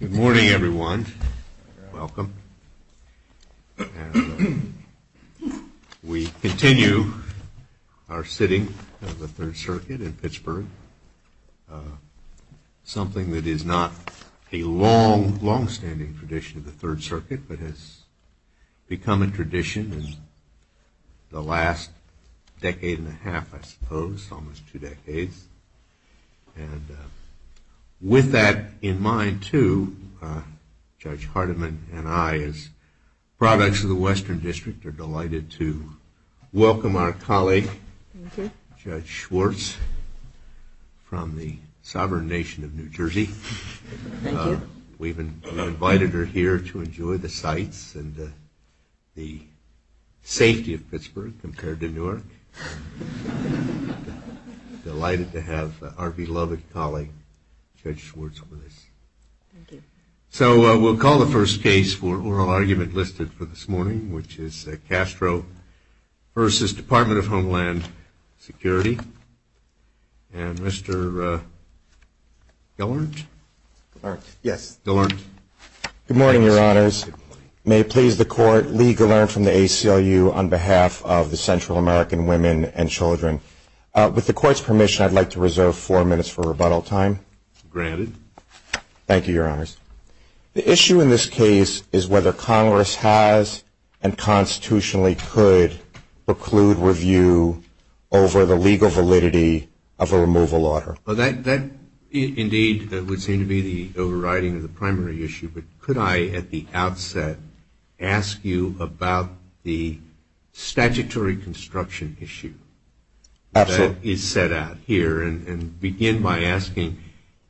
Good morning, everyone. Welcome. We continue our sitting of the Third Circuit in Pittsburgh, something that is not a long, longstanding tradition of the Third Circuit, but has become a tradition in the last decade and a half, I suppose, almost two decades. And with that in mind, too, Judge Hardiman and I, as products of the Western District, are delighted to welcome our colleague, Judge Schwartz, from the sovereign nation of New Jersey. Thank you. We've invited her here to enjoy the sights and the safety of Pittsburgh compared to Newark. Thank you. Delighted to have our beloved colleague, Judge Schwartz, with us. Thank you. So we'll call the first case for oral argument listed for this morning, which is Castro v. Department of Homeland Security. And Mr. Gallant? Yes. Gallant. Good morning, Your Honors. Good morning. May it please the Court, Lee Gallant from the ACLU on behalf of the Central American Women and Children. With the Court's permission, I'd like to reserve four minutes for rebuttal time. Granted. Thank you, Your Honors. The issue in this case is whether Congress has and constitutionally could preclude review over the legal validity of a removal order. Well, that, indeed, would seem to be the overriding of the primary issue. But could I, at the outset, ask you about the statutory construction issue that is set out here and begin by asking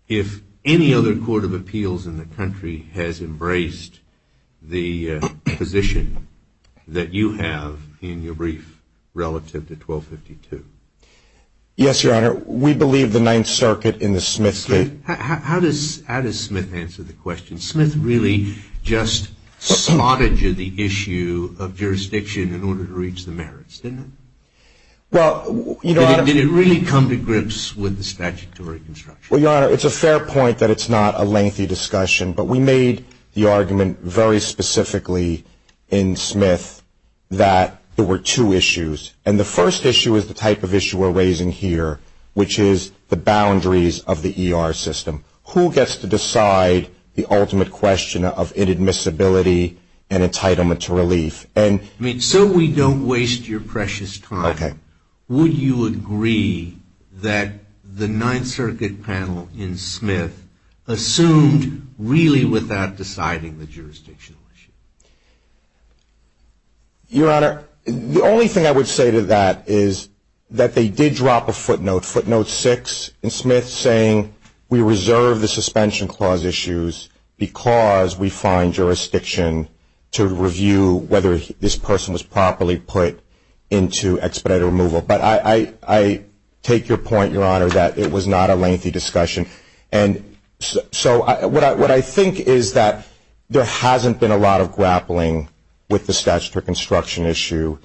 if any other court of appeals in the country has embraced the position that you have in your brief relative to 1252? Yes, Your Honor. We believe the Ninth Circuit in the Smith case. How does Smith answer the question? Smith really just smotted you the issue of jurisdiction in order to reach the merits, didn't it? Well, Your Honor. Did it really come to grips with the statutory construction? Well, Your Honor, it's a fair point that it's not a lengthy discussion, but we made the argument very specifically in Smith that there were two issues. And the first issue is the type of issue we're raising here, which is the boundaries of the ER system. Who gets to decide the ultimate question of inadmissibility and entitlement to relief? I mean, so we don't waste your precious time. Okay. Would you agree that the Ninth Circuit panel in Smith assumed really without deciding the jurisdictional issue? Your Honor, the only thing I would say to that is that they did drop a footnote, footnote six in Smith saying we reserve the suspension clause issues because we find jurisdiction to review whether this person was properly put into expedited removal. But I take your point, Your Honor, that it was not a lengthy discussion. And so what I think is that there hasn't been a lot of grappling with the statutory construction issue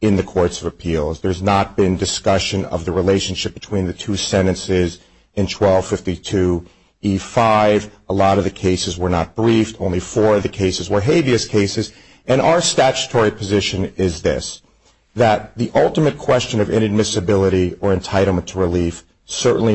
in the courts of appeals. There's not been discussion of the relationship between the two sentences in 1252E5. A lot of the cases were not briefed. Only four of the cases were habeas cases. And our statutory position is this, that the ultimate question of inadmissibility or entitlement to relief certainly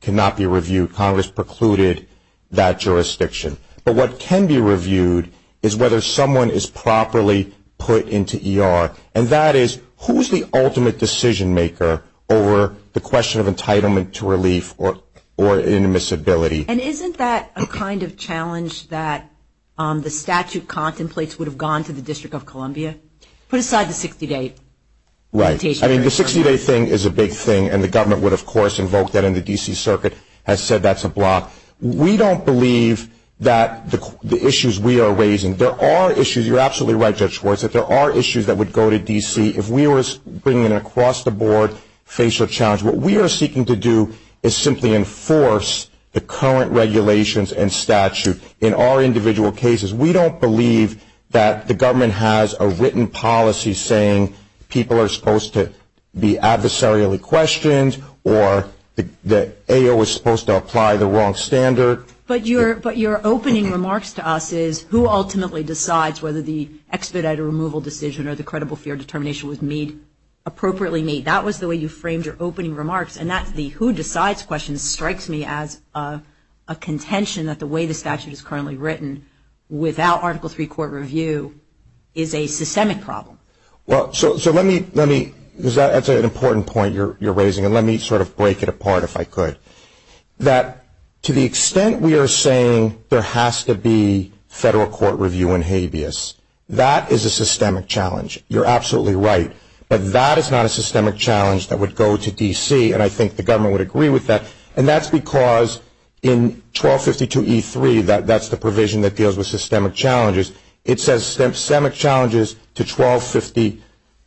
cannot be reviewed. Congress precluded that jurisdiction. But what can be reviewed is whether someone is properly put into ER. And that is who is the ultimate decision-maker over the question of entitlement to relief or inadmissibility. And isn't that a kind of challenge that the statute contemplates would have gone to the District of Columbia? Put aside the 60-day limitation. Right. I mean, the 60-day thing is a big thing. And the government would, of course, invoke that. And the D.C. Circuit has said that's a block. We don't believe that the issues we are raising, there are issues, you're absolutely right, Judge Schwartz, that there are issues that would go to D.C. If we were bringing across the board facial challenge, what we are seeking to do is simply enforce the current regulations and statute in our individual cases. We don't believe that the government has a written policy saying people are supposed to be adversarially questioned or that AO is supposed to apply the wrong standard. But your opening remarks to us is who ultimately decides whether the expedited removal decision or the credible fear determination was made, appropriately made. That was the way you framed your opening remarks. And that's the who decides question strikes me as a contention that the way the statute is currently written without Article III court review is a systemic problem. Well, so let me, that's an important point you're raising. And let me sort of break it apart if I could. That to the extent we are saying there has to be federal court review in habeas, that is a systemic challenge. You're absolutely right. But that is not a systemic challenge that would go to D.C., and I think the government would agree with that. And that's because in 1252E3, that's the provision that deals with systemic challenges, it says systemic challenges to 1250,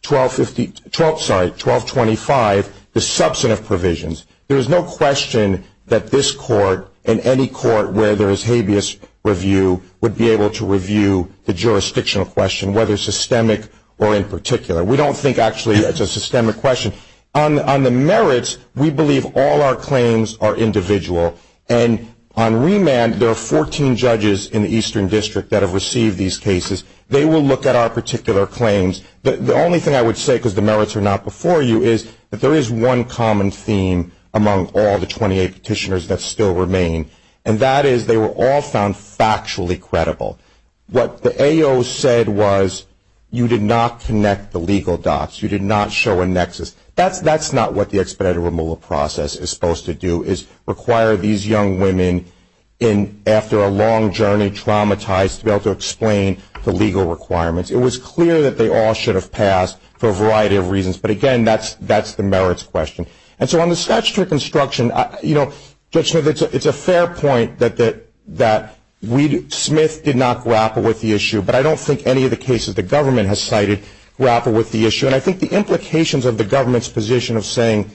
1250, 12, sorry, 1225, the substantive provisions. There is no question that this court and any court where there is habeas review would be able to review the jurisdictional question, whether systemic or in particular. We don't think actually it's a systemic question. On the merits, we believe all our claims are individual. And on remand, there are 14 judges in the Eastern District that have received these cases. They will look at our particular claims. The only thing I would say, because the merits are not before you, is that there is one common theme among all the 28 petitioners that still remain, and that is they were all found factually credible. What the AO said was you did not connect the legal dots, you did not show a nexus. That's not what the expedited removal process is supposed to do, is require these young women after a long journey traumatized to be able to explain the legal requirements. It was clear that they all should have passed for a variety of reasons. But, again, that's the merits question. And so on the statutory construction, you know, Judge Smith, it's a fair point that Smith did not grapple with the issue, but I don't think any of the cases the government has cited grapple with the issue. And I think the implications of the government's position of saying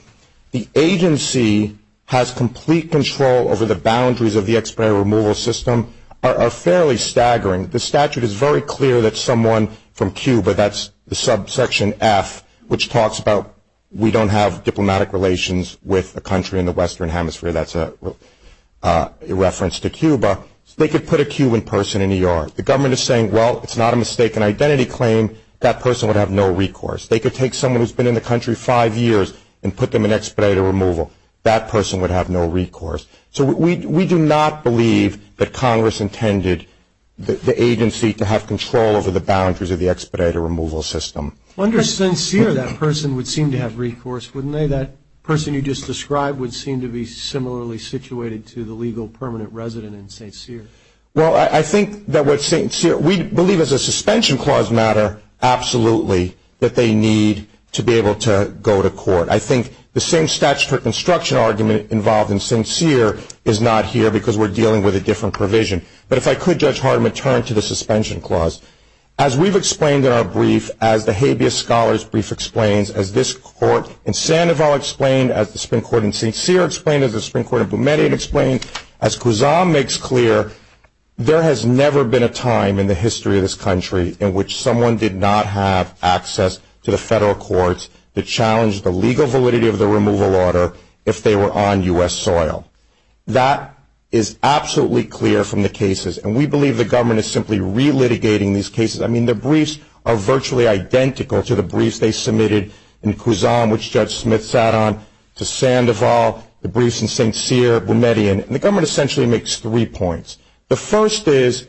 the agency has complete control over the boundaries of the expedited removal system are fairly staggering. The statute is very clear that someone from Cuba, that's the subsection F, which talks about we don't have diplomatic relations with a country in the western hemisphere, that's a reference to Cuba, they could put a Cuban person in E.R. The government is saying, well, it's not a mistake. An identity claim, that person would have no recourse. They could take someone who's been in the country five years and put them in expedited removal. That person would have no recourse. So we do not believe that Congress intended the agency to have control over the boundaries of the expedited removal system. Under St. Cyr, that person would seem to have recourse, wouldn't they? That person you just described would seem to be similarly situated to the legal permanent resident in St. Cyr. Well, I think that what St. Cyr, we believe as a suspension clause matter, absolutely, that they need to be able to go to court. I think the same statutory construction argument involved in St. Cyr is not here because we're dealing with a different provision. But if I could, Judge Hardiman, turn to the suspension clause. As we've explained in our brief, as the habeas scholars brief explains, as this court in Sandoval explained, as the Supreme Court in St. Cyr explained, as the Supreme Court in Boumediene explained, as Guzam makes clear, there has never been a time in the history of this country in which someone did not have access to the federal courts to challenge the legal validity of the removal order if they were on U.S. soil. That is absolutely clear from the cases. And we believe the government is simply relitigating these cases. I mean, the briefs are virtually identical to the briefs they submitted in Guzam, which Judge Smith sat on, to Sandoval, the briefs in St. Cyr, Boumediene. And the government essentially makes three points. The first is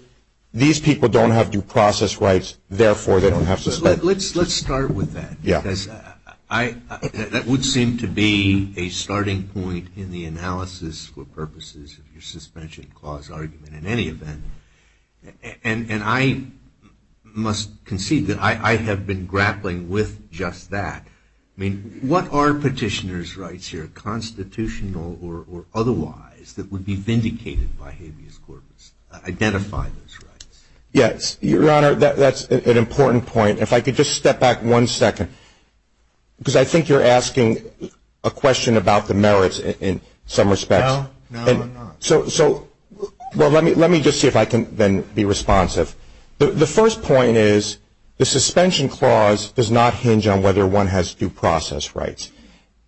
these people don't have due process rights, therefore they don't have suspension. Let's start with that. Yeah. Because that would seem to be a starting point in the analysis for purposes of your suspension clause argument in any event. And I must concede that I have been grappling with just that. I mean, what are petitioner's rights here, constitutional or otherwise, that would be vindicated by habeas corpus? Identify those rights. Yes. Your Honor, that's an important point. If I could just step back one second, because I think you're asking a question about the merits in some respects. No, I'm not. So let me just see if I can then be responsive. The first point is the suspension clause does not hinge on whether one has due process rights.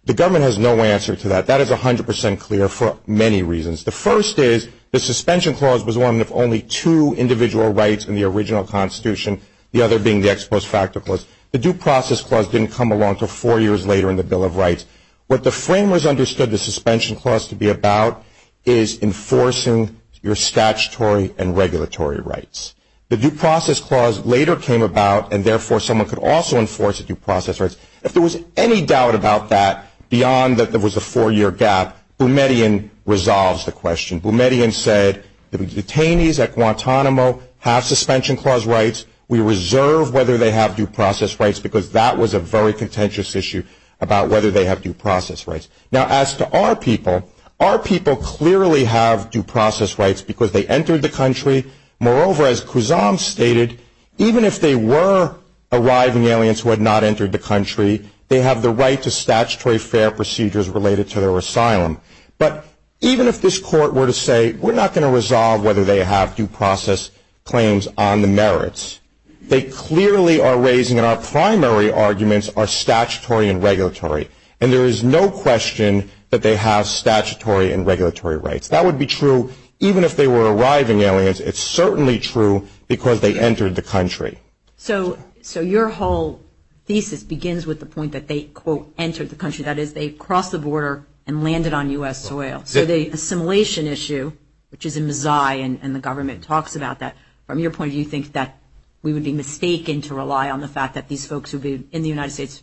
The government has no answer to that. That is 100% clear for many reasons. The first is the suspension clause was one of only two individual rights in the original Constitution, the other being the ex post facto clause. The due process clause didn't come along until four years later in the Bill of Rights. What the framers understood the suspension clause to be about is enforcing your statutory and regulatory rights. The due process clause later came about, and therefore someone could also enforce the due process rights. If there was any doubt about that beyond that there was a four-year gap, Boumediene resolves the question. Boumediene said the detainees at Guantanamo have suspension clause rights. We reserve whether they have due process rights because that was a very contentious issue about whether they have due process rights. Now, as to our people, our people clearly have due process rights because they entered the country. Moreover, as Kuzang stated, even if they were arriving aliens who had not entered the country, they have the right to statutory fair procedures related to their asylum. But even if this court were to say we're not going to resolve whether they have due process claims on the merits, they clearly are raising, and our primary arguments are statutory and regulatory, and there is no question that they have statutory and regulatory rights. That would be true even if they were arriving aliens. It's certainly true because they entered the country. So your whole thesis begins with the point that they, quote, entered the country. That is, they crossed the border and landed on U.S. soil. So the assimilation issue, which is a mazai, and the government talks about that, from your point of view, you think that we would be mistaken to rely on the fact that these folks would be in the United States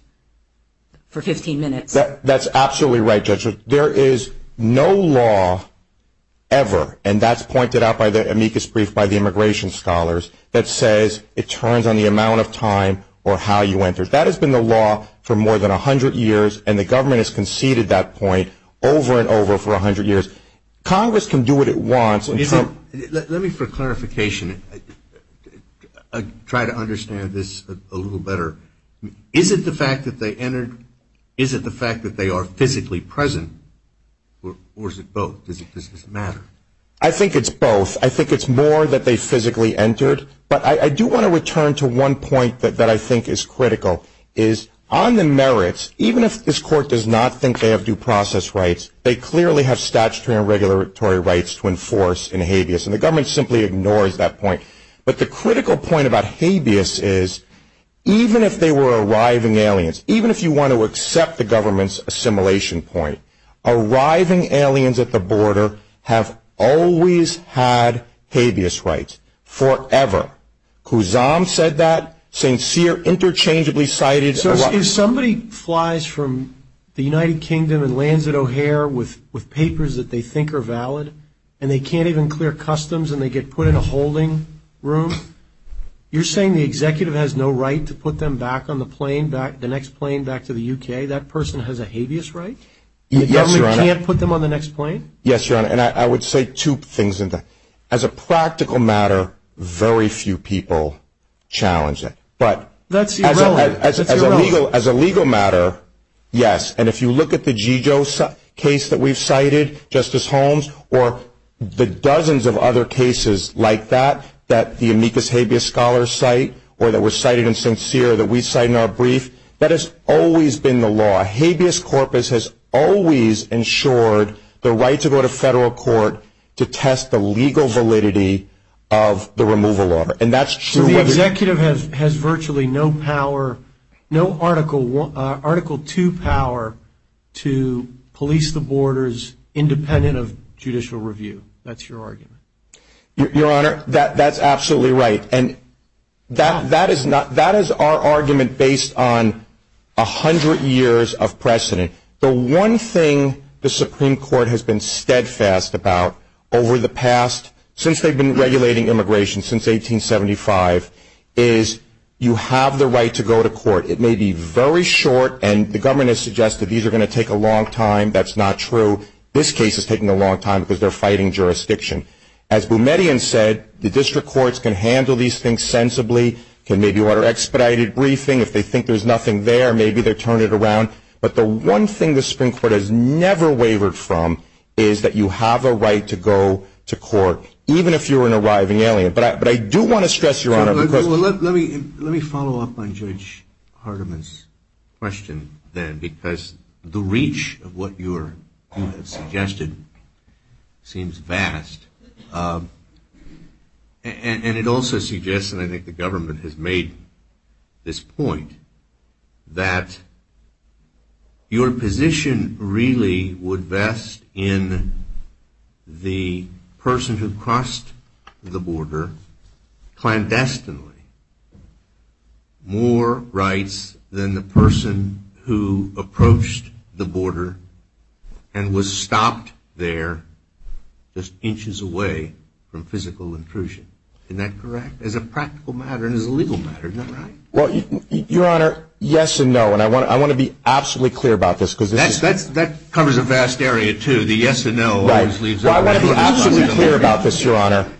for 15 minutes. That's absolutely right, Judge. There is no law ever, and that's pointed out by the amicus brief by the immigration scholars, that says it turns on the amount of time or how you entered. That has been the law for more than 100 years, and the government has conceded that point over and over for 100 years. Congress can do what it wants. Let me, for clarification, try to understand this a little better. Is it the fact that they entered? Is it the fact that they are physically present? Or is it both? Does this matter? I think it's both. I think it's more that they physically entered. But I do want to return to one point that I think is critical, is on the merits, even if this court does not think they have due process rights, they clearly have statutory and regulatory rights to enforce in habeas. And the government simply ignores that point. But the critical point about habeas is, even if they were arriving aliens, even if you want to accept the government's assimilation point, arriving aliens at the border have always had habeas rights, forever. Khuzam said that. St. Cyr interchangeably cited. So if somebody flies from the United Kingdom and lands at O'Hare with papers that they think are valid, and they can't even clear customs and they get put in a holding room, you're saying the executive has no right to put them back on the plane, the next plane back to the U.K.? That person has a habeas right? Yes, Your Honor. The government can't put them on the next plane? Yes, Your Honor. And I would say two things. As a practical matter, very few people challenge it. That's irrelevant. As a legal matter, yes. And if you look at the Gigio case that we've cited, Justice Holmes, or the dozens of other cases like that, that the amicus habeas scholars cite, or that were cited in St. Cyr that we cite in our brief, that has always been the law. Habeas corpus has always ensured the right to go to federal court to test the legal validity of the removal order. So the executive has virtually no power, no Article 2 power, to police the borders independent of judicial review. That's your argument. Your Honor, that's absolutely right. That is our argument based on 100 years of precedent. The one thing the Supreme Court has been steadfast about over the past, since they've been regulating immigration since 1875, is you have the right to go to court. It may be very short, and the government has suggested these are going to take a long time. That's not true. This case is taking a long time because they're fighting jurisdiction. As Boumediene said, the district courts can handle these things sensibly, can maybe order expedited briefing. If they think there's nothing there, maybe they'll turn it around. But the one thing the Supreme Court has never wavered from is that you have a right to go to court, even if you're an arriving alien. But I do want to stress, Your Honor. Let me follow up on Judge Hardiman's question then, because the reach of what you have suggested seems vast. And it also suggests, and I think the government has made this point, that your position really would vest in the person who crossed the border clandestinely more rights than the person who approached the border and was stopped there just inches away from physical intrusion. Isn't that correct as a practical matter and as a legal matter? Isn't that right? Well, Your Honor, yes and no. And I want to be absolutely clear about this. That covers a vast area, too. The yes and no always leaves it open. Right. Well, I want to be absolutely clear about this, Your Honor.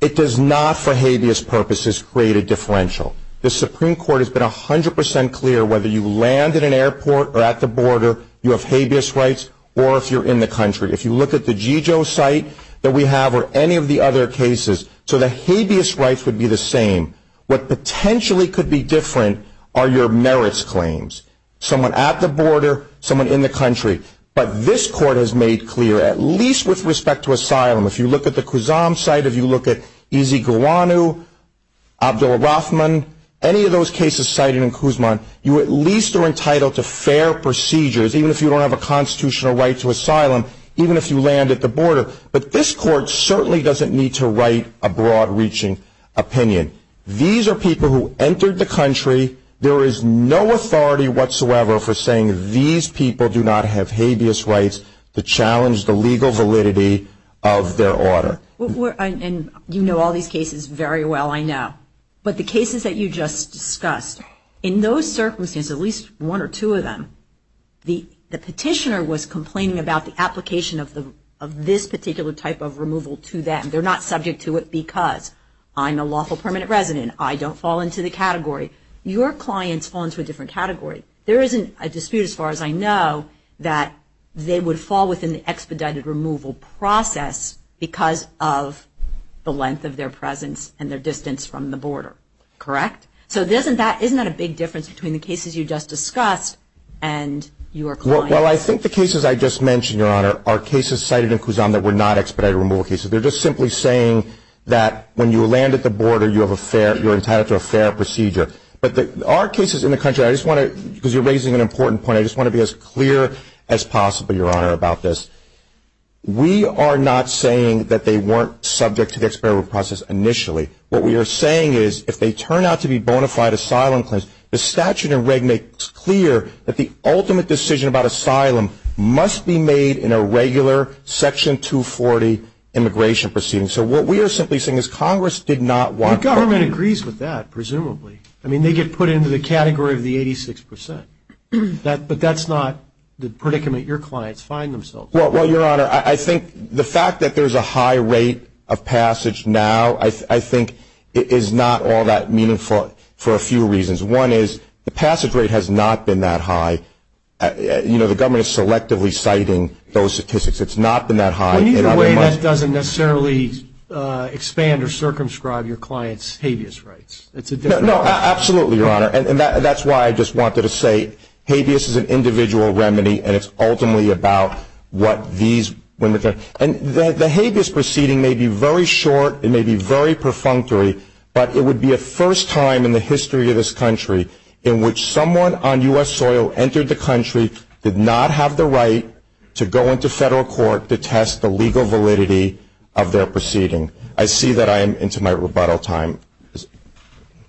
It does not, for habeas purposes, create a differential. The Supreme Court has been 100% clear whether you land at an airport or at the border, you have habeas rights, or if you're in the country. If you look at the Jijo site that we have or any of the other cases, so the habeas rights would be the same. What potentially could be different are your merits claims, someone at the border, someone in the country. But this Court has made clear, at least with respect to asylum, if you look at the Kuzam site, if you look at Ezeguanu, Abdullah Rahman, any of those cases cited in Kuzman, you at least are entitled to fair procedures, even if you don't have a constitutional right to asylum, even if you land at the border. But this Court certainly doesn't need to write a broad-reaching opinion. These are people who entered the country. There is no authority whatsoever for saying these people do not have habeas rights to challenge the legal validity of their order. And you know all these cases very well, I know. But the cases that you just discussed, in those circumstances, at least one or two of them, the petitioner was complaining about the application of this particular type of removal to them. They're not subject to it because I'm a lawful permanent resident. I don't fall into the category. Your clients fall into a different category. There isn't a dispute as far as I know that they would fall within the expedited removal process because of the length of their presence and their distance from the border. Correct? So isn't that a big difference between the cases you just discussed and your clients? Well, I think the cases I just mentioned, Your Honor, are cases cited in Kuzan that were not expedited removal cases. They're just simply saying that when you land at the border, you're entitled to a fair procedure. But our cases in the country, because you're raising an important point, I just want to be as clear as possible, Your Honor, about this. We are not saying that they weren't subject to the expedited removal process initially. What we are saying is if they turn out to be bona fide asylum claims, the statute and reg make it clear that the ultimate decision about asylum must be made in a regular Section 240 immigration proceeding. So what we are simply saying is Congress did not want to. The government agrees with that, presumably. I mean, they get put into the category of the 86%. But that's not the predicament your clients find themselves in. Well, Your Honor, I think the fact that there's a high rate of passage now, I think it is not all that meaningful for a few reasons. One is the passage rate has not been that high. You know, the government is selectively citing those statistics. It's not been that high. Well, either way, that doesn't necessarily expand or circumscribe your clients' habeas rights. No, absolutely, Your Honor. And that's why I just wanted to say habeas is an individual remedy, and it's ultimately about what these women are doing. And the habeas proceeding may be very short. It may be very perfunctory. But it would be a first time in the history of this country in which someone on U.S. soil entered the country, did not have the right to go into federal court to test the legal validity of their proceeding. I see that I am into my rebuttal time.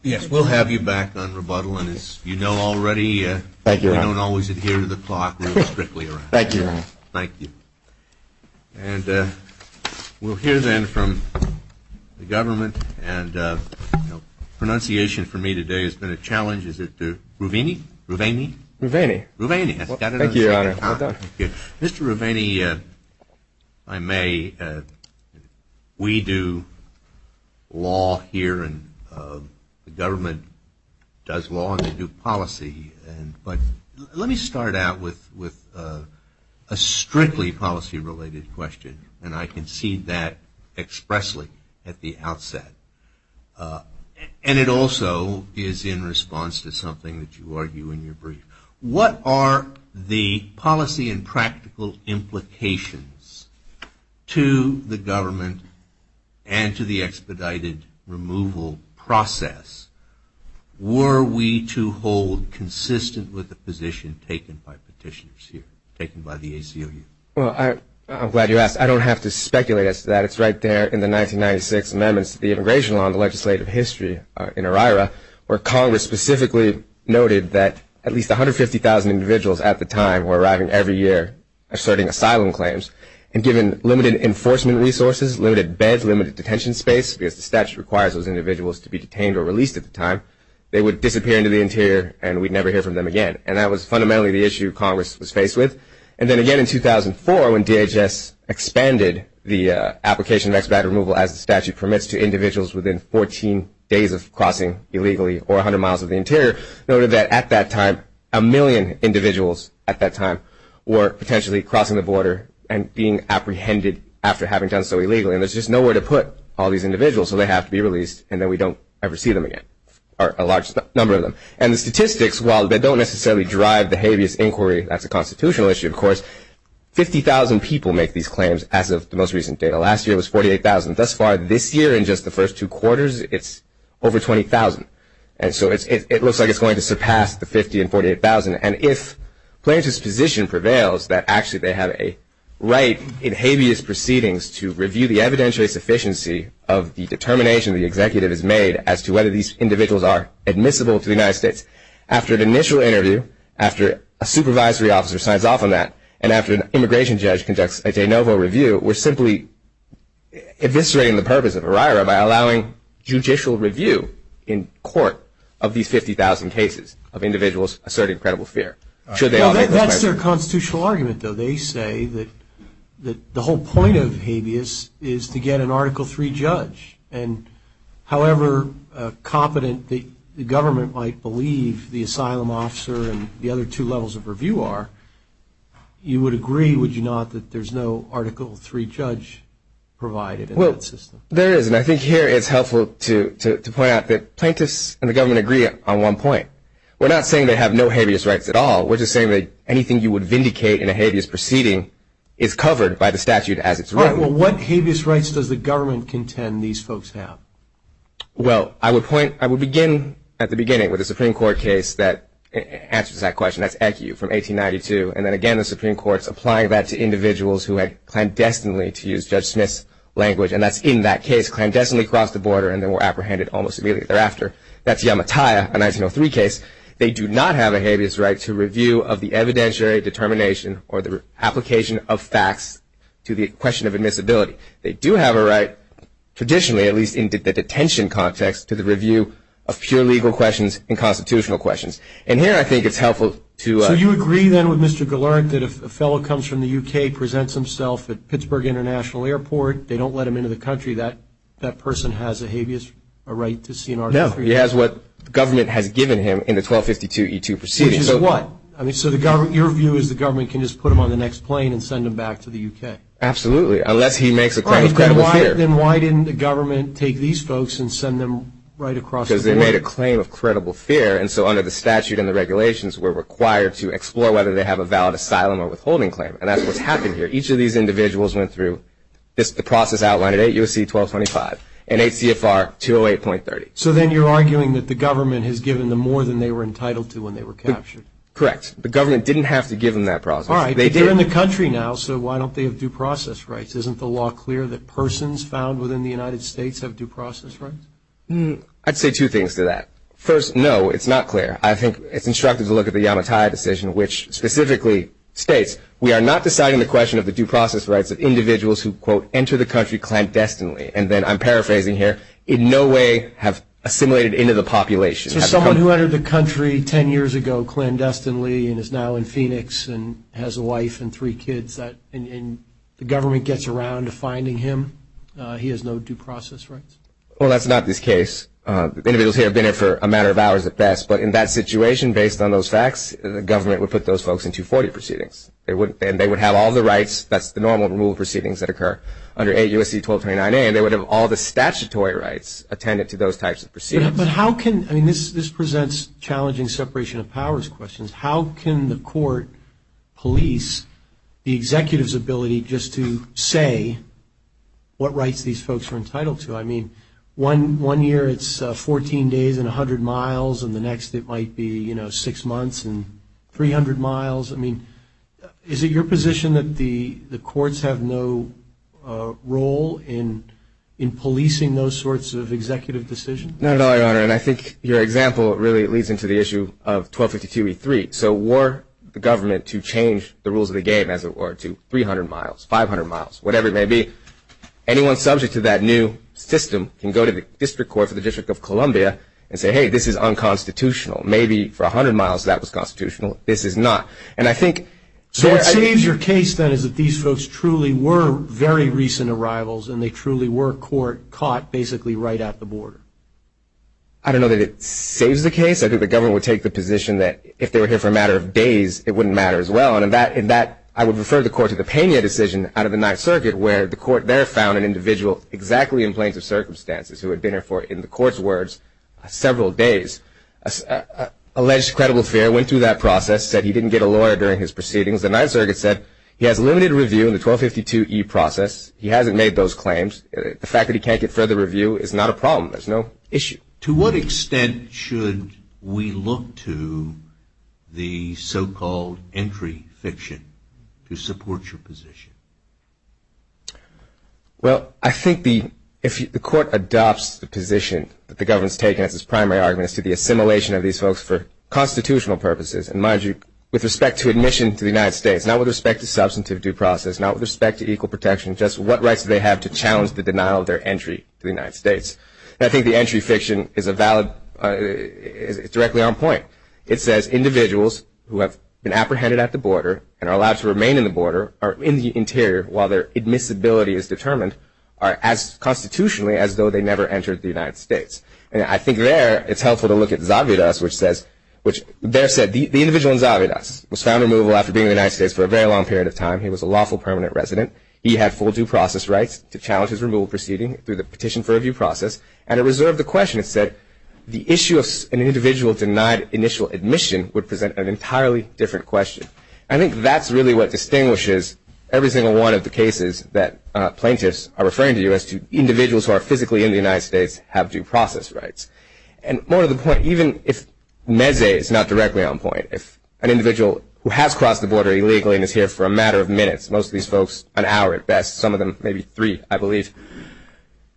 Yes, we'll have you back on rebuttal. And as you know already, we don't always adhere to the clock. Thank you, Your Honor. Thank you. And we'll hear, then, from the government. And pronunciation for me today has been a challenge. Is it Ruvini? Ruvaini? Ruvaini. Ruvaini. Thank you, Your Honor. Mr. Ruvaini, if I may, we do law here, and the government does law, and they do policy. But let me start out with a strictly policy-related question. And I concede that expressly at the outset. And it also is in response to something that you argue in your brief. What are the policy and practical implications to the government and to the expedited removal process? Were we to hold consistent with the position taken by petitioners here, taken by the ACLU? Well, I'm glad you asked. I don't have to speculate as to that. It's right there in the 1996 amendments to the immigration law and the legislative history in ERIRA, where Congress specifically noted that at least 150,000 individuals at the time were arriving every year asserting asylum claims. And given limited enforcement resources, limited beds, limited detention space, because the statute requires those individuals to be detained or released at the time, they would disappear into the interior and we'd never hear from them again. And that was fundamentally the issue Congress was faced with. And then again in 2004, when DHS expanded the application of expedited removal, as the statute permits, to individuals within 14 days of crossing illegally or 100 miles of the interior, noted that at that time a million individuals at that time were potentially crossing the border and being apprehended after having done so illegally. And there's just nowhere to put all these individuals, so they have to be released, and then we don't ever see them again, or a large number of them. And the statistics, while they don't necessarily drive the habeas inquiry, that's a constitutional issue, of course, 50,000 people make these claims as of the most recent data. Last year it was 48,000. Thus far this year, in just the first two quarters, it's over 20,000. And so it looks like it's going to surpass the 50,000 and 48,000. And if plaintiff's position prevails that actually they have a right in habeas proceedings to review the evidentiary sufficiency of the determination the executive has made as to whether these individuals are admissible to the United States, after an initial interview, after a supervisory officer signs off on that, and after an immigration judge conducts a de novo review, we're simply eviscerating the purpose of ERIRA by allowing judicial review in court of these 50,000 cases of individuals asserting credible fear. That's their constitutional argument, though. They say that the whole point of habeas is to get an Article III judge. And however competent the government might believe the asylum officer and the other two levels of review are, you would agree, would you not, that there's no Article III judge provided in that system? Well, there is. And I think here it's helpful to point out that plaintiffs and the government agree on one point. We're not saying they have no habeas rights at all. We're just saying that anything you would vindicate in a habeas proceeding is covered by the statute as it's written. All right. Well, what habeas rights does the government contend these folks have? Well, I would begin at the beginning with a Supreme Court case that answers that question. That's ECU from 1892. And then again, the Supreme Court's applying that to individuals who had clandestinely, to use Judge Smith's language, and that's in that case, clandestinely crossed the border and then were apprehended almost immediately thereafter. That's Yamataya, a 1903 case. They do not have a habeas right to review of the evidentiary determination or the application of facts to the question of admissibility. They do have a right, traditionally, at least in the detention context, to the review of pure legal questions and constitutional questions. And here I think it's helpful to ---- So you agree then with Mr. Galleric that if a fellow comes from the U.K., presents himself at Pittsburgh International Airport, they don't let him into the country, that that person has a habeas right to see an ROTC? No. He has what the government has given him in the 1252E2 proceeding. Which is what? I mean, so your view is the government can just put him on the next plane and send him back to the U.K.? Absolutely, unless he makes a claim of credible fear. All right. Then why didn't the government take these folks and send them right across the border? Because they made a claim of credible fear. And so under the statute and the regulations, we're required to explore whether they have a valid asylum or withholding claim. And that's what's happened here. Each of these individuals went through the process outlined at 8 U.S.C. 1225 and 8 CFR 208.30. So then you're arguing that the government has given them more than they were entitled to when they were captured? Correct. The government didn't have to give them that process. All right. But they're in the country now, so why don't they have due process rights? Isn't the law clear that persons found within the United States have due process rights? I'd say two things to that. First, no, it's not clear. I think it's instructive to look at the Yamatai decision, which specifically states, we are not deciding the question of the due process rights of individuals who, quote, enter the country clandestinely. And then I'm paraphrasing here, in no way have assimilated into the population. So someone who entered the country 10 years ago clandestinely and is now in Phoenix and has a wife and three kids and the government gets around to finding him, he has no due process rights? Well, that's not this case. Individuals here have been here for a matter of hours at best. But in that situation, based on those facts, the government would put those folks in 240 proceedings. And they would have all the rights, that's the normal rule of proceedings that occur, under 8 U.S.C. 1229A, and they would have all the statutory rights attended to those types of proceedings. But how can ñ I mean, this presents challenging separation of powers questions. How can the court police the executive's ability just to say what rights these folks are entitled to? I mean, one year it's 14 days and 100 miles, and the next it might be, you know, six months and 300 miles. I mean, is it your position that the courts have no role in policing those sorts of executive decisions? Not at all, Your Honor. And I think your example really leads into the issue of 1252E3. So were the government to change the rules of the game, as it were, to 300 miles, 500 miles, whatever it may be, anyone subject to that new system can go to the district court for the District of Columbia and say, hey, this is unconstitutional. Maybe for 100 miles that was constitutional. This is not. And I think ñ So what saves your case, then, is that these folks truly were very recent arrivals, and they truly were caught basically right at the border. I don't know that it saves the case. I think the government would take the position that if they were here for a matter of days, it wouldn't matter as well. In that, I would refer the court to the Pena decision out of the Ninth Circuit, where the court there found an individual exactly in plaintive circumstances, who had been there for, in the court's words, several days. Alleged credible fare went through that process, said he didn't get a lawyer during his proceedings. The Ninth Circuit said he has limited review in the 1252E process. He hasn't made those claims. The fact that he can't get further review is not a problem. There's no issue. To what extent should we look to the so-called entry fiction to support your position? Well, I think if the court adopts the position that the government is taking as its primary argument as to the assimilation of these folks for constitutional purposes, and mind you, with respect to admission to the United States, not with respect to substantive due process, not with respect to equal protection, just what rights do they have to challenge the denial of their entry to the United States? I think the entry fiction is directly on point. It says individuals who have been apprehended at the border and are allowed to remain in the border or in the interior while their admissibility is determined are as constitutionally as though they never entered the United States. And I think there it's helpful to look at Zavidas, which there said the individual in Zavidas was found removable after being in the United States for a very long period of time. He was a lawful permanent resident. He had full due process rights to challenge his removal proceeding through the petition for review process. And it reserved the question. It said the issue of an individual denied initial admission would present an entirely different question. I think that's really what distinguishes every single one of the cases that plaintiffs are referring to as to individuals who are physically in the United States have due process rights. And more to the point, even if Neze is not directly on point, if an individual who has crossed the border illegally and is here for a matter of minutes, most of these folks an hour at best, some of them maybe three, I believe,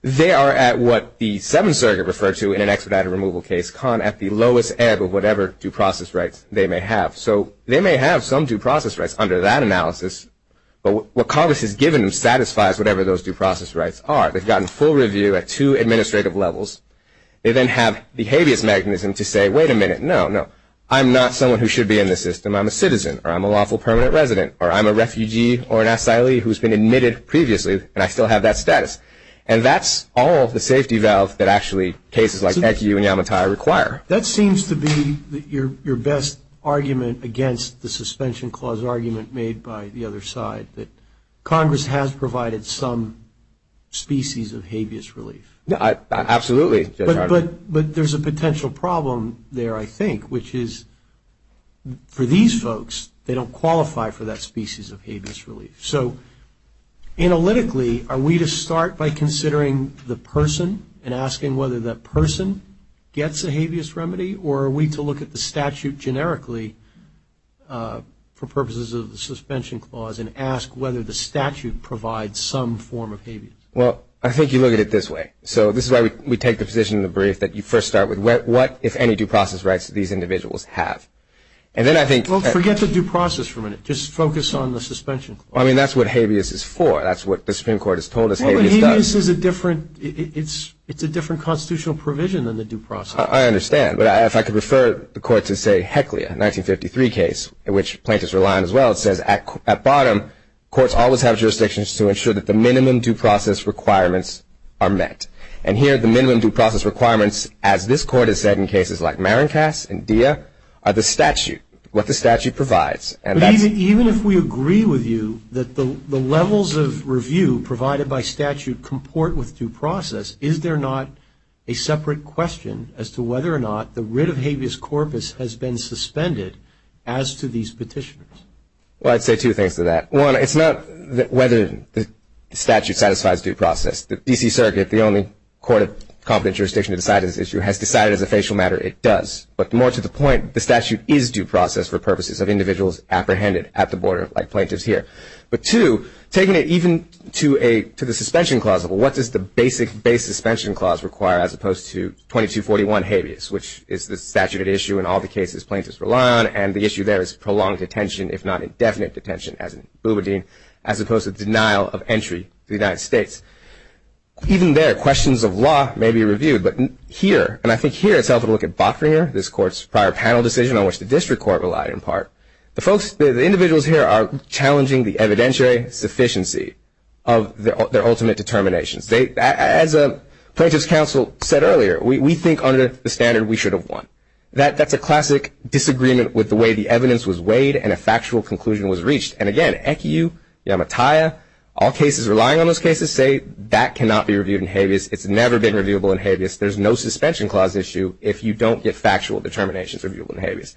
they are at what the Seventh Circuit referred to in an expedited removal case, con at the lowest ebb of whatever due process rights they may have. So they may have some due process rights under that analysis, but what Congress has given them satisfies whatever those due process rights are. They've gotten full review at two administrative levels. They then have the habeas mechanism to say, wait a minute, no, no. I'm not someone who should be in the system. I'm a citizen or I'm a lawful permanent resident or I'm a refugee or an asylee who's been admitted previously and I still have that status. And that's all the safety valve that actually cases like ECU and Yamatai require. That seems to be your best argument against the suspension clause argument made by the other side, that Congress has provided some species of habeas relief. Absolutely. But there's a potential problem there, I think, which is for these folks, they don't qualify for that species of habeas relief. So analytically, are we to start by considering the person and asking whether that person gets a habeas remedy, or are we to look at the statute generically for purposes of the suspension clause and ask whether the statute provides some form of habeas? Well, I think you look at it this way. So this is why we take the position in the brief that you first start with, what, if any, due process rights do these individuals have? And then I think – Well, forget the due process for a minute. Just focus on the suspension clause. I mean, that's what habeas is for. That's what the Supreme Court has told us habeas does. Well, but habeas is a different – it's a different constitutional provision than the due process. I understand. But if I could refer the Court to, say, Heckley, a 1953 case, which plaintiffs rely on as well, it says at bottom courts always have jurisdictions to ensure that the minimum due process requirements are met. And here the minimum due process requirements, as this Court has said in cases like Marincas and Dia, are the statute, what the statute provides. Even if we agree with you that the levels of review provided by statute comport with due process, is there not a separate question as to whether or not the writ of habeas corpus has been suspended as to these petitioners? Well, I'd say two things to that. One, it's not whether the statute satisfies due process. The D.C. Circuit, the only court of competent jurisdiction to decide this issue, has decided as a facial matter it does. But more to the point, the statute is due process for purposes of individuals apprehended at the border, like plaintiffs here. But, two, taking it even to the suspension clause, what does the basic base suspension clause require as opposed to 2241 habeas, which is the statute at issue in all the cases plaintiffs rely on, and the issue there is prolonged detention, if not indefinite detention, as in Boubidin, as opposed to denial of entry to the United States. Even there, questions of law may be reviewed. But here, and I think here it's helpful to look at Botringer, this Court's prior panel decision on which the district court relied in part. The folks, the individuals here are challenging the evidentiary sufficiency of their ultimate determinations. As a plaintiff's counsel said earlier, we think under the standard we should have won. That's a classic disagreement with the way the evidence was weighed and a factual conclusion was reached. And, again, ECU, MATIA, all cases relying on those cases say that cannot be reviewed in habeas. It's never been reviewable in habeas. There's no suspension clause issue if you don't get factual determinations reviewable in habeas.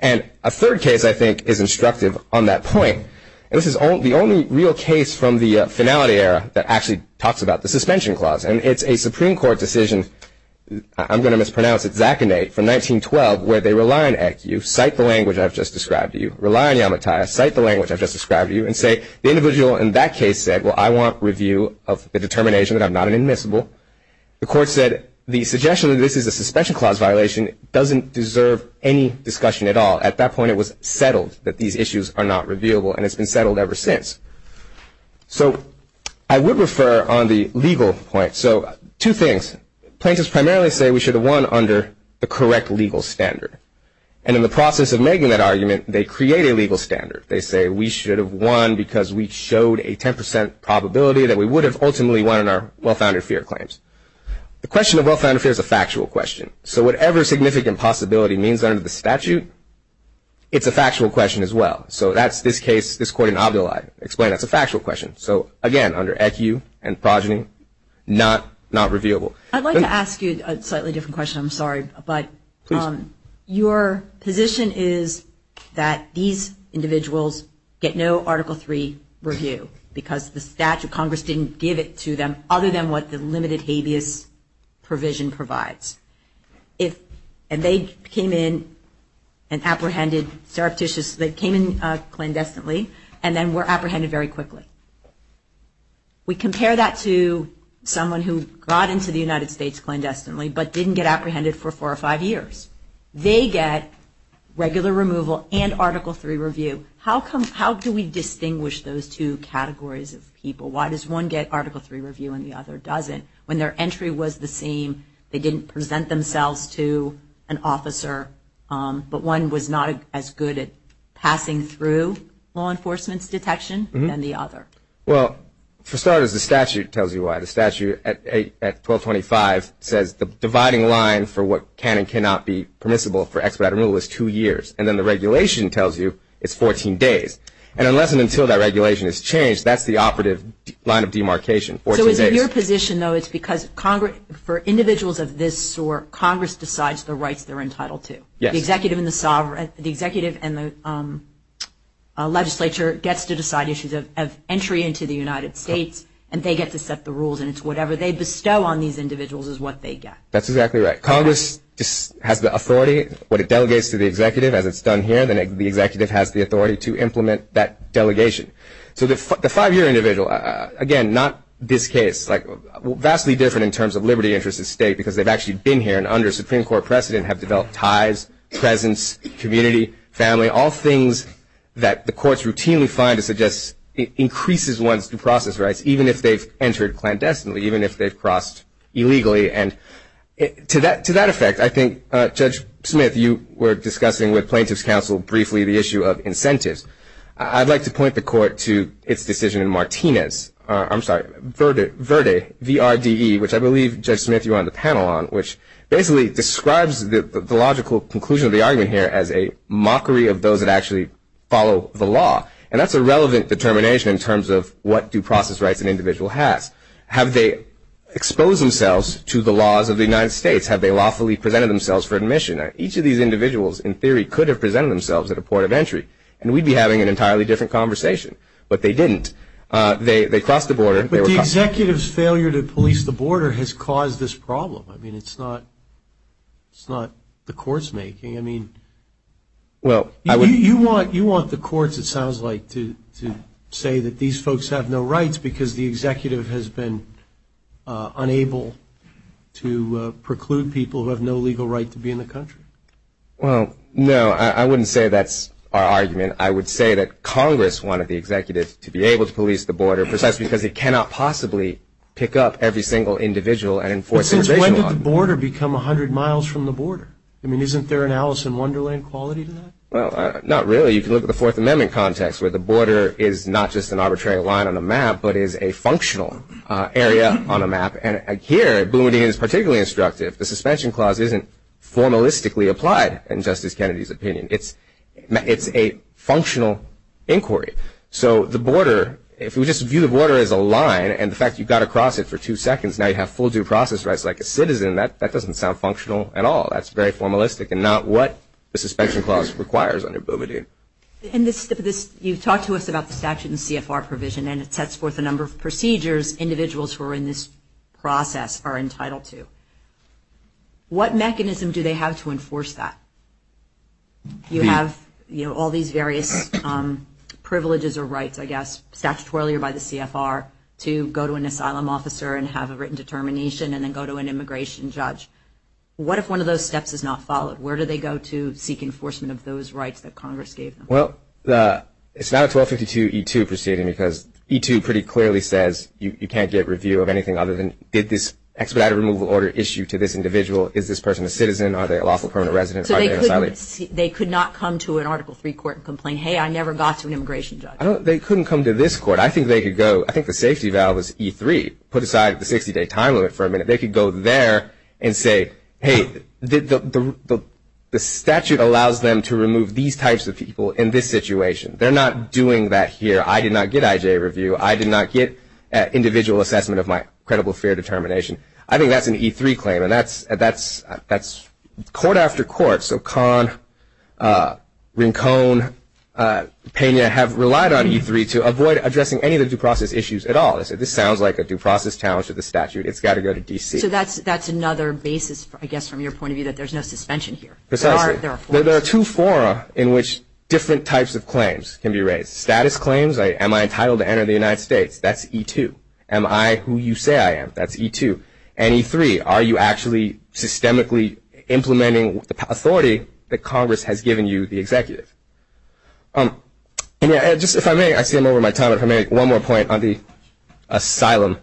And a third case, I think, is instructive on that point. This is the only real case from the finality era that actually talks about the suspension clause, and it's a Supreme Court decision. I'm going to mispronounce it, Zach and Nate, from 1912, where they rely on ECU, cite the language I've just described to you, rely on MATIA, cite the language I've just described to you, and say the individual in that case said, well, I want review of the determination that I'm not an admissible. The court said the suggestion that this is a suspension clause violation doesn't deserve any discussion at all. At that point, it was settled that these issues are not reviewable, and it's been settled ever since. So I would refer on the legal point. So two things. Plaintiffs primarily say we should have won under the correct legal standard. And in the process of making that argument, they create a legal standard. They say we should have won because we showed a 10% probability that we would have ultimately won under our well-founded fear claims. The question of well-founded fear is a factual question. So whatever significant possibility means under the statute, it's a factual question as well. So that's this case, this court in Abdullah explained that's a factual question. So, again, under ECU and progeny, not reviewable. I'd like to ask you a slightly different question. I'm sorry, but your position is that these individuals get no Article III review because the statute, Congress didn't give it to them other than what the limited habeas provision provides. And they came in and apprehended surreptitiously, came in clandestinely, and then were apprehended very quickly. We compare that to someone who got into the United States clandestinely but didn't get apprehended for four or five years. They get regular removal and Article III review. How do we distinguish those two categories of people? Why does one get Article III review and the other doesn't? When their entry was the same, they didn't present themselves to an officer, but one was not as good at passing through law enforcement's detection than the other. Well, for starters, the statute tells you why. The statute at 1225 says the dividing line for what can and cannot be permissible for expedited removal is two years. And then the regulation tells you it's 14 days. And unless and until that regulation is changed, that's the operative line of demarcation, 14 days. So it's in your position, though, it's because for individuals of this sort, Congress decides the rights they're entitled to. Yes. The executive and the legislature gets to decide issues of entry into the United States, and they get to set the rules, and it's whatever they bestow on these individuals is what they get. That's exactly right. Congress has the authority. What it delegates to the executive, as it's done here, the executive has the authority to implement that delegation. So the five-year individual, again, not this case, vastly different in terms of liberty, interest, and state because they've actually been here and under a Supreme Court precedent have developed ties, presence, community, family, all things that the courts routinely find to suggest it increases one's due process rights, even if they've entered clandestinely, even if they've crossed illegally. And to that effect, I think, Judge Smith, you were discussing with plaintiff's counsel briefly the issue of incentives. I'd like to point the Court to its decision in Martinez, I'm sorry, Verde, V-R-D-E, which I believe, Judge Smith, you were on the panel on, which basically describes the logical conclusion of the argument here as a mockery of those that actually follow the law, and that's a relevant determination in terms of what due process rights an individual has. Have they exposed themselves to the laws of the United States? Have they lawfully presented themselves for admission? Each of these individuals, in theory, could have presented themselves at a point of entry, and we'd be having an entirely different conversation. But they didn't. They crossed the border. But the executive's failure to police the border has caused this problem. I mean, it's not the court's making. I mean, you want the courts, it sounds like, to say that these folks have no rights because the executive has been unable to preclude people who have no legal right to be in the country. Well, no, I wouldn't say that's our argument. I would say that Congress wanted the executive to be able to police the border precisely because it cannot possibly pick up every single individual and enforce immigration law. But since when did the border become 100 miles from the border? I mean, isn't there an Alice in Wonderland quality to that? Well, not really. You can look at the Fourth Amendment context where the border is not just an arbitrary line on a map but is a functional area on a map. And here, Boumediene is particularly instructive. The suspension clause isn't formalistically applied in Justice Kennedy's opinion. It's a functional inquiry. So the border, if we just view the border as a line, and the fact you've got to cross it for two seconds, now you have full due process rights like a citizen, that doesn't sound functional at all. That's very formalistic and not what the suspension clause requires under Boumediene. You've talked to us about the statute and CFR provision, and it sets forth a number of procedures individuals who are in this process are entitled to. What mechanism do they have to enforce that? You have all these various privileges or rights, I guess, statutory or by the CFR, to go to an asylum officer and have a written determination and then go to an immigration judge. What if one of those steps is not followed? Where do they go to seek enforcement of those rights that Congress gave them? Well, it's not a 1252E2 proceeding because E2 pretty clearly says you can't get review of anything other than, did this expedited removal order issue to this individual? Is this person a citizen? Are they a lawful permanent resident? Are they an asylum? They could not come to an Article III court and complain, hey, I never got to an immigration judge. They couldn't come to this court. I think they could go. I think the safety valve is E3, put aside the 60-day time limit for a minute. They could go there and say, hey, the statute allows them to remove these types of people in this situation. They're not doing that here. I did not get IJ review. I did not get individual assessment of my credible fear determination. I think that's an E3 claim, and that's court after court. So Kahn, Rincon, Pena have relied on E3 to avoid addressing any of the due process issues at all. This sounds like a due process challenge to the statute. It's got to go to D.C. So that's another basis, I guess, from your point of view, that there's no suspension here. Precisely. There are two fora in which different types of claims can be raised. Status claims, am I entitled to enter the United States? That's E2. Am I who you say I am? That's E2. And E3, are you actually systemically implementing the authority that Congress has given you, the executive? And just if I may, I see I'm over my time. If I may, one more point on the asylum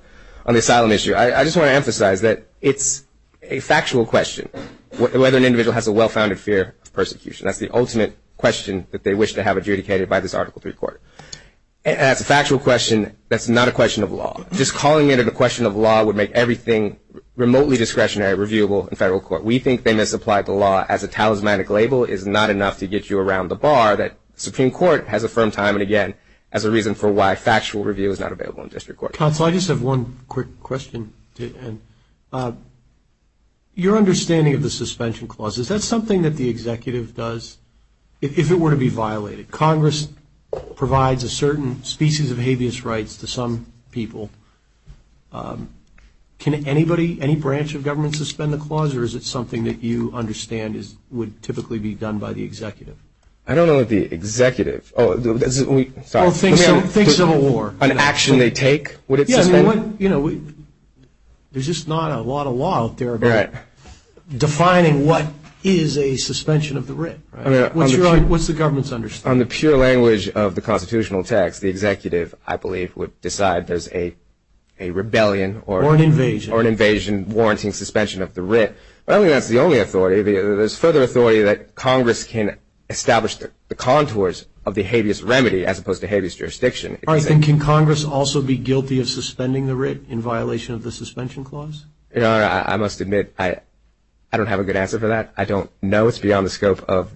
issue. I just want to emphasize that it's a factual question whether an individual has a well-founded fear of persecution. That's the ultimate question that they wish to have adjudicated by this Article III court. And that's a factual question that's not a question of law. Just calling it a question of law would make everything remotely discretionary, reviewable in federal court. We think they misapplied the law as a talismanic label is not enough to get you around the bar that Supreme Court has affirmed time and again as a reason for why factual review is not available in district court. Counsel, I just have one quick question. Your understanding of the suspension clause, is that something that the executive does if it were to be violated? Congress provides a certain species of habeas rights to some people. Can anybody, any branch of government suspend the clause, or is it something that you understand would typically be done by the executive? I don't know that the executive. Think Civil War. An action they take, would it suspend? There's just not a lot of law out there about defining what is a suspension of the writ. What's the government's understanding? Based on the pure language of the constitutional text, the executive, I believe, would decide there's a rebellion or an invasion warranting suspension of the writ. I don't think that's the only authority. There's further authority that Congress can establish the contours of the habeas remedy, as opposed to habeas jurisdiction. Can Congress also be guilty of suspending the writ in violation of the suspension clause? I must admit, I don't have a good answer for that. I don't know. It's beyond the scope of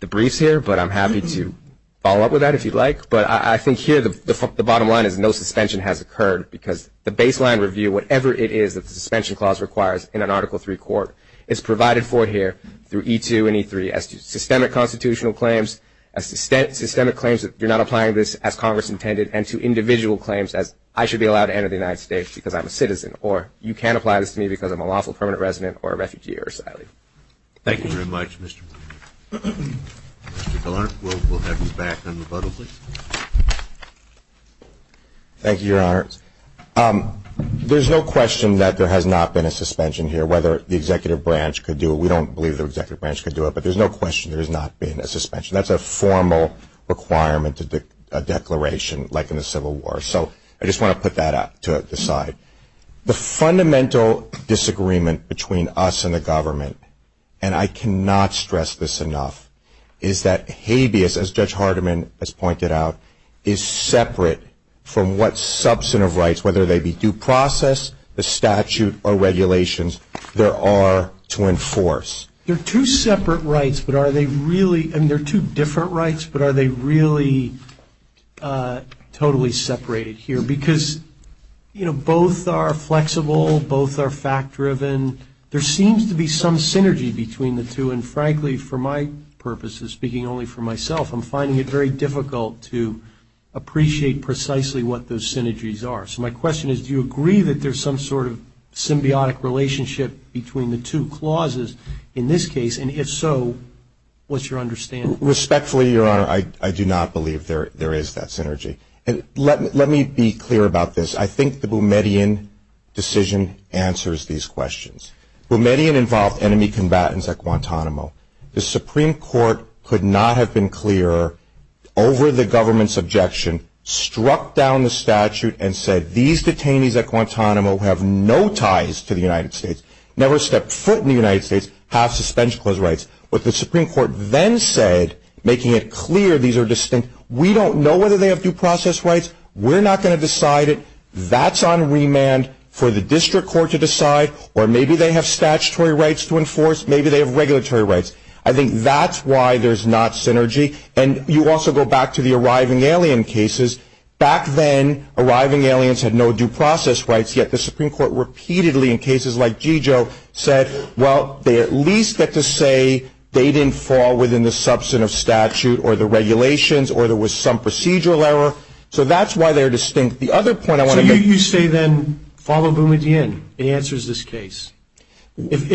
the briefs here, but I'm happy to follow up with that if you'd like. But I think here the bottom line is no suspension has occurred, because the baseline review, whatever it is that the suspension clause requires in an Article III court, is provided for here through E2 and E3 as to systemic constitutional claims, as systemic claims that you're not applying this as Congress intended, and to individual claims as I should be allowed to enter the United States because I'm a citizen, or you can't apply this to me because I'm a lawful permanent resident or a refugee or asylee. Thank you. Thank you very much, Mr. Blumenthal. Mr. Gallant, we'll have you back unrebuttably. Thank you, Your Honors. There's no question that there has not been a suspension here, whether the executive branch could do it. We don't believe the executive branch could do it, but there's no question there has not been a suspension. That's a formal requirement, a declaration, like in the Civil War. So I just want to put that out to the side. The fundamental disagreement between us and the government, and I cannot stress this enough, is that habeas, as Judge Hardiman has pointed out, is separate from what substantive rights, whether they be due process, the statute, or regulations there are to enforce. They're two separate rights, but are they really – I mean, they're two different rights, but are they really totally separated here? Because, you know, both are flexible, both are fact-driven. There seems to be some synergy between the two, and, frankly, for my purposes, speaking only for myself, I'm finding it very difficult to appreciate precisely what those synergies are. So my question is, do you agree that there's some sort of symbiotic relationship between the two clauses in this case, and if so, what's your understanding? Respectfully, Your Honor, I do not believe there is that synergy. And let me be clear about this. I think the Boumediene decision answers these questions. Boumediene involved enemy combatants at Guantanamo. The Supreme Court could not have been clearer over the government's objection, struck down the statute and said these detainees at Guantanamo have no ties to the United States, never stepped foot in the United States, have suspension clause rights. What the Supreme Court then said, making it clear these are distinct, we don't know whether they have due process rights, we're not going to decide it, that's on remand for the district court to decide, or maybe they have statutory rights to enforce, maybe they have regulatory rights. I think that's why there's not synergy. And you also go back to the arriving alien cases. Back then, arriving aliens had no due process rights, yet the Supreme Court repeatedly in cases like Gigio said, well, they at least get to say they didn't fall within the substantive statute or the regulations or there was some procedural error. So that's why they're distinct. The other point I want to make. So you say then follow Boumediene. It answers this case. Well, we think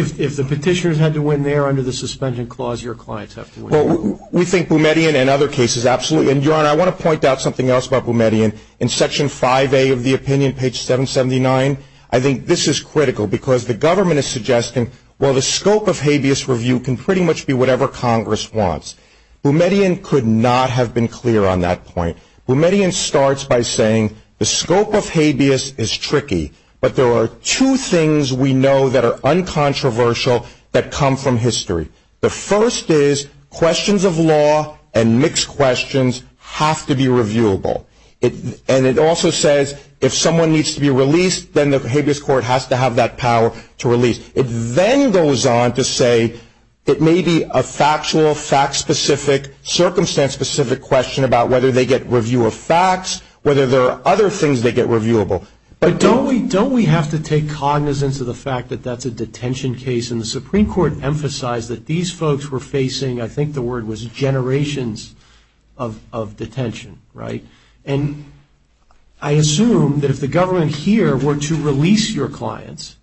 Boumediene and other cases absolutely. And, Your Honor, I want to point out something else about Boumediene. In Section 5A of the opinion, page 779, I think this is critical because the government is suggesting, well, the scope of habeas review can pretty much be whatever Congress wants. Boumediene could not have been clear on that point. Boumediene starts by saying the scope of habeas is tricky, but there are two things we know that are uncontroversial that come from history. The first is questions of law and mixed questions have to be reviewable. And it also says if someone needs to be released, then the habeas court has to have that power to release. It then goes on to say it may be a factual, fact-specific, circumstance-specific question about whether they get review of facts, whether there are other things they get reviewable. But don't we have to take cognizance of the fact that that's a detention case, and the Supreme Court emphasized that these folks were facing, I think the word was generations of detention, right? And I assume that if the government here were to release your clients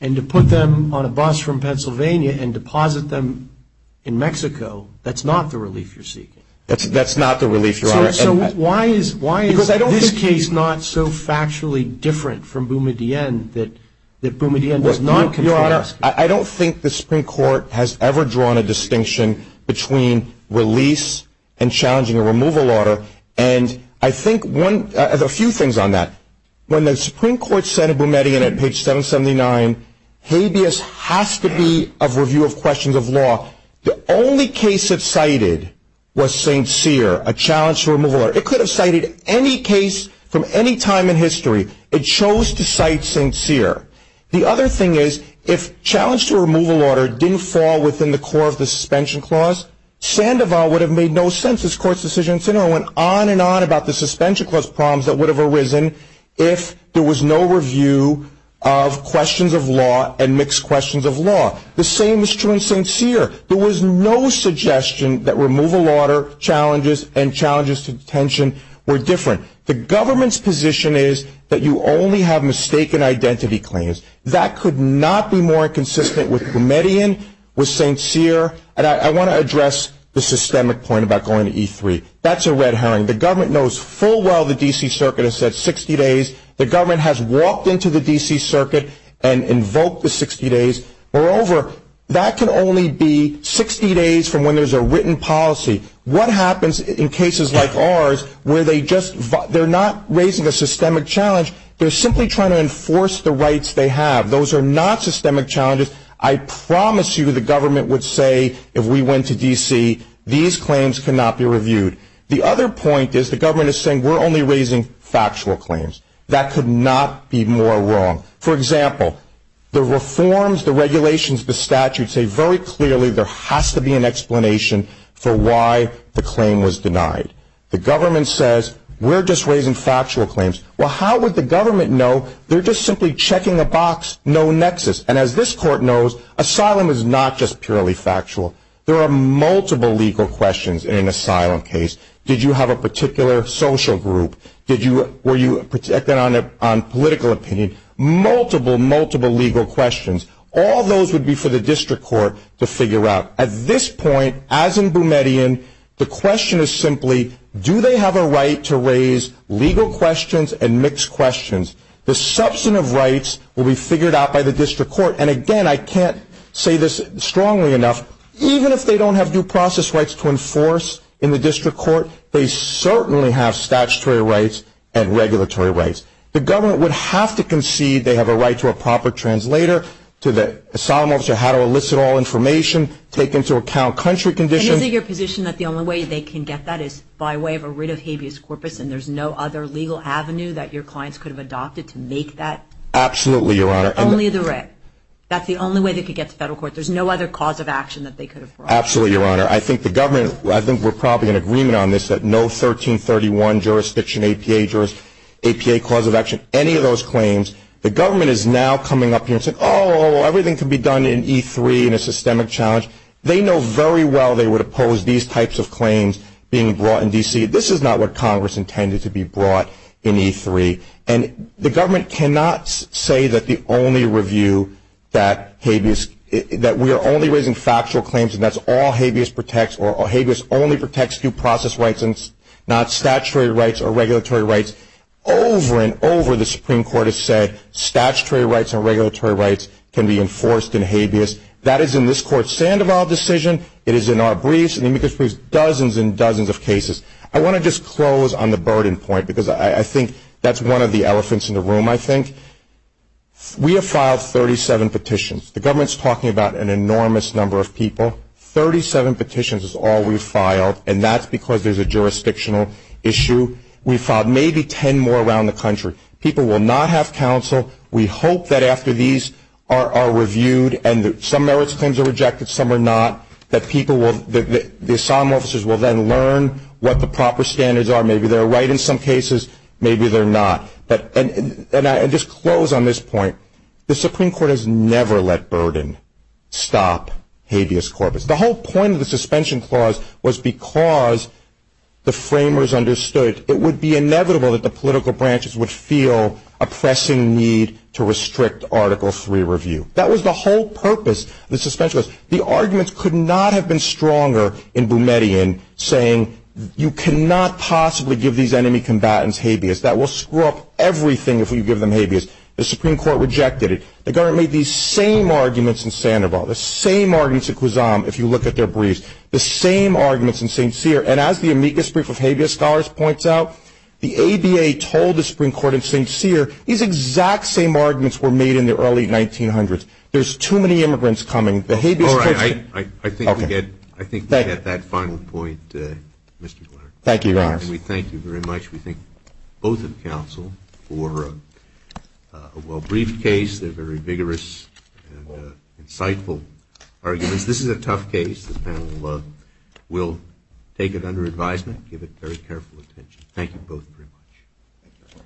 and to put them on a bus from Pennsylvania and deposit them in Mexico, that's not the relief you're seeking. That's not the relief, Your Honor. So why is this case not so factually different from Boumediene that Boumediene does not compare? I don't think the Supreme Court has ever drawn a distinction between release and challenging a removal order. And I think a few things on that. When the Supreme Court said in Boumediene at page 779, habeas has to be of review of questions of law, the only case it cited was St. Cyr, a challenge to removal order. It could have cited any case from any time in history. It chose to cite St. Cyr. The other thing is if challenge to removal order didn't fall within the core of the suspension clause, Sandoval would have made no sense. His court's decision went on and on about the suspension clause problems that would have arisen if there was no review of questions of law and mixed questions of law. The same is true in St. Cyr. There was no suggestion that removal order challenges and challenges to detention were different. The government's position is that you only have mistaken identity claims. That could not be more inconsistent with Boumediene, with St. Cyr, and I want to address the systemic point about going to E3. That's a red herring. The government knows full well the D.C. Circuit has said 60 days. The government has walked into the D.C. Circuit and invoked the 60 days. Moreover, that can only be 60 days from when there's a written policy. What happens in cases like ours where they're not raising a systemic challenge, they're simply trying to enforce the rights they have. Those are not systemic challenges. I promise you the government would say if we went to D.C., these claims cannot be reviewed. The other point is the government is saying we're only raising factual claims. That could not be more wrong. For example, the reforms, the regulations, the statutes say very clearly there has to be an explanation for why the claim was denied. The government says we're just raising factual claims. Well, how would the government know? They're just simply checking a box, no nexus. And as this court knows, asylum is not just purely factual. There are multiple legal questions in an asylum case. Did you have a particular social group? Were you protected on political opinion? Multiple, multiple legal questions. All those would be for the district court to figure out. At this point, as in Boumediene, the question is simply, do they have a right to raise legal questions and mixed questions? The substantive rights will be figured out by the district court. And again, I can't say this strongly enough, even if they don't have due process rights to enforce in the district court, they certainly have statutory rights and regulatory rights. The government would have to concede they have a right to a proper translator, to the asylum officer how to elicit all information, take into account country conditions. And is it your position that the only way they can get that is by way of a writ of habeas corpus and there's no other legal avenue that your clients could have adopted to make that? Absolutely, Your Honor. Only the writ. That's the only way they could get to federal court. There's no other cause of action that they could have brought. Absolutely, Your Honor. I think the government, I think we're probably in agreement on this, that no 1331 jurisdiction, APA jurisdiction, APA cause of action, any of those claims. The government is now coming up here and saying, oh, everything can be done in E3 in a systemic challenge. They know very well they would oppose these types of claims being brought in D.C. This is not what Congress intended to be brought in E3. And the government cannot say that the only review, that we are only raising factual claims and that's all habeas protects or habeas only protects due process rights and not statutory rights or regulatory rights. Over and over, the Supreme Court has said, statutory rights and regulatory rights can be enforced in habeas. That is in this Court's Sandoval decision. It is in our briefs. And it includes dozens and dozens of cases. I want to just close on the burden point because I think that's one of the elephants in the room, I think. We have filed 37 petitions. The government is talking about an enormous number of people. Thirty-seven petitions is all we've filed, and that's because there's a jurisdictional issue. We've filed maybe ten more around the country. People will not have counsel. We hope that after these are reviewed and some merits claims are rejected, some are not, that the asylum officers will then learn what the proper standards are. Maybe they're right in some cases. Maybe they're not. And I'll just close on this point. The Supreme Court has never let burden stop habeas corpus. The whole point of the suspension clause was because the framers understood it would be inevitable that the political branches would feel a pressing need to restrict Article III review. That was the whole purpose of the suspension clause. The arguments could not have been stronger in Boumediene saying, you cannot possibly give these enemy combatants habeas. That will screw up everything if you give them habeas. The Supreme Court rejected it. The government made these same arguments in Sandoval, the same arguments in Kwazam if you look at their briefs, the same arguments in St. Cyr. And as the amicus brief of habeas scholars points out, the ABA told the Supreme Court in St. Cyr, these exact same arguments were made in the early 1900s. There's too many immigrants coming. The habeas courts are too many. All right. I think we get that final point, Mr. Blair. Thank you, Your Honors. And we thank you very much. We thank both of counsel for a well-briefed case. They're very vigorous and insightful arguments. This is a tough case. The panel will take it under advisement, give it very careful attention. Thank you both very much.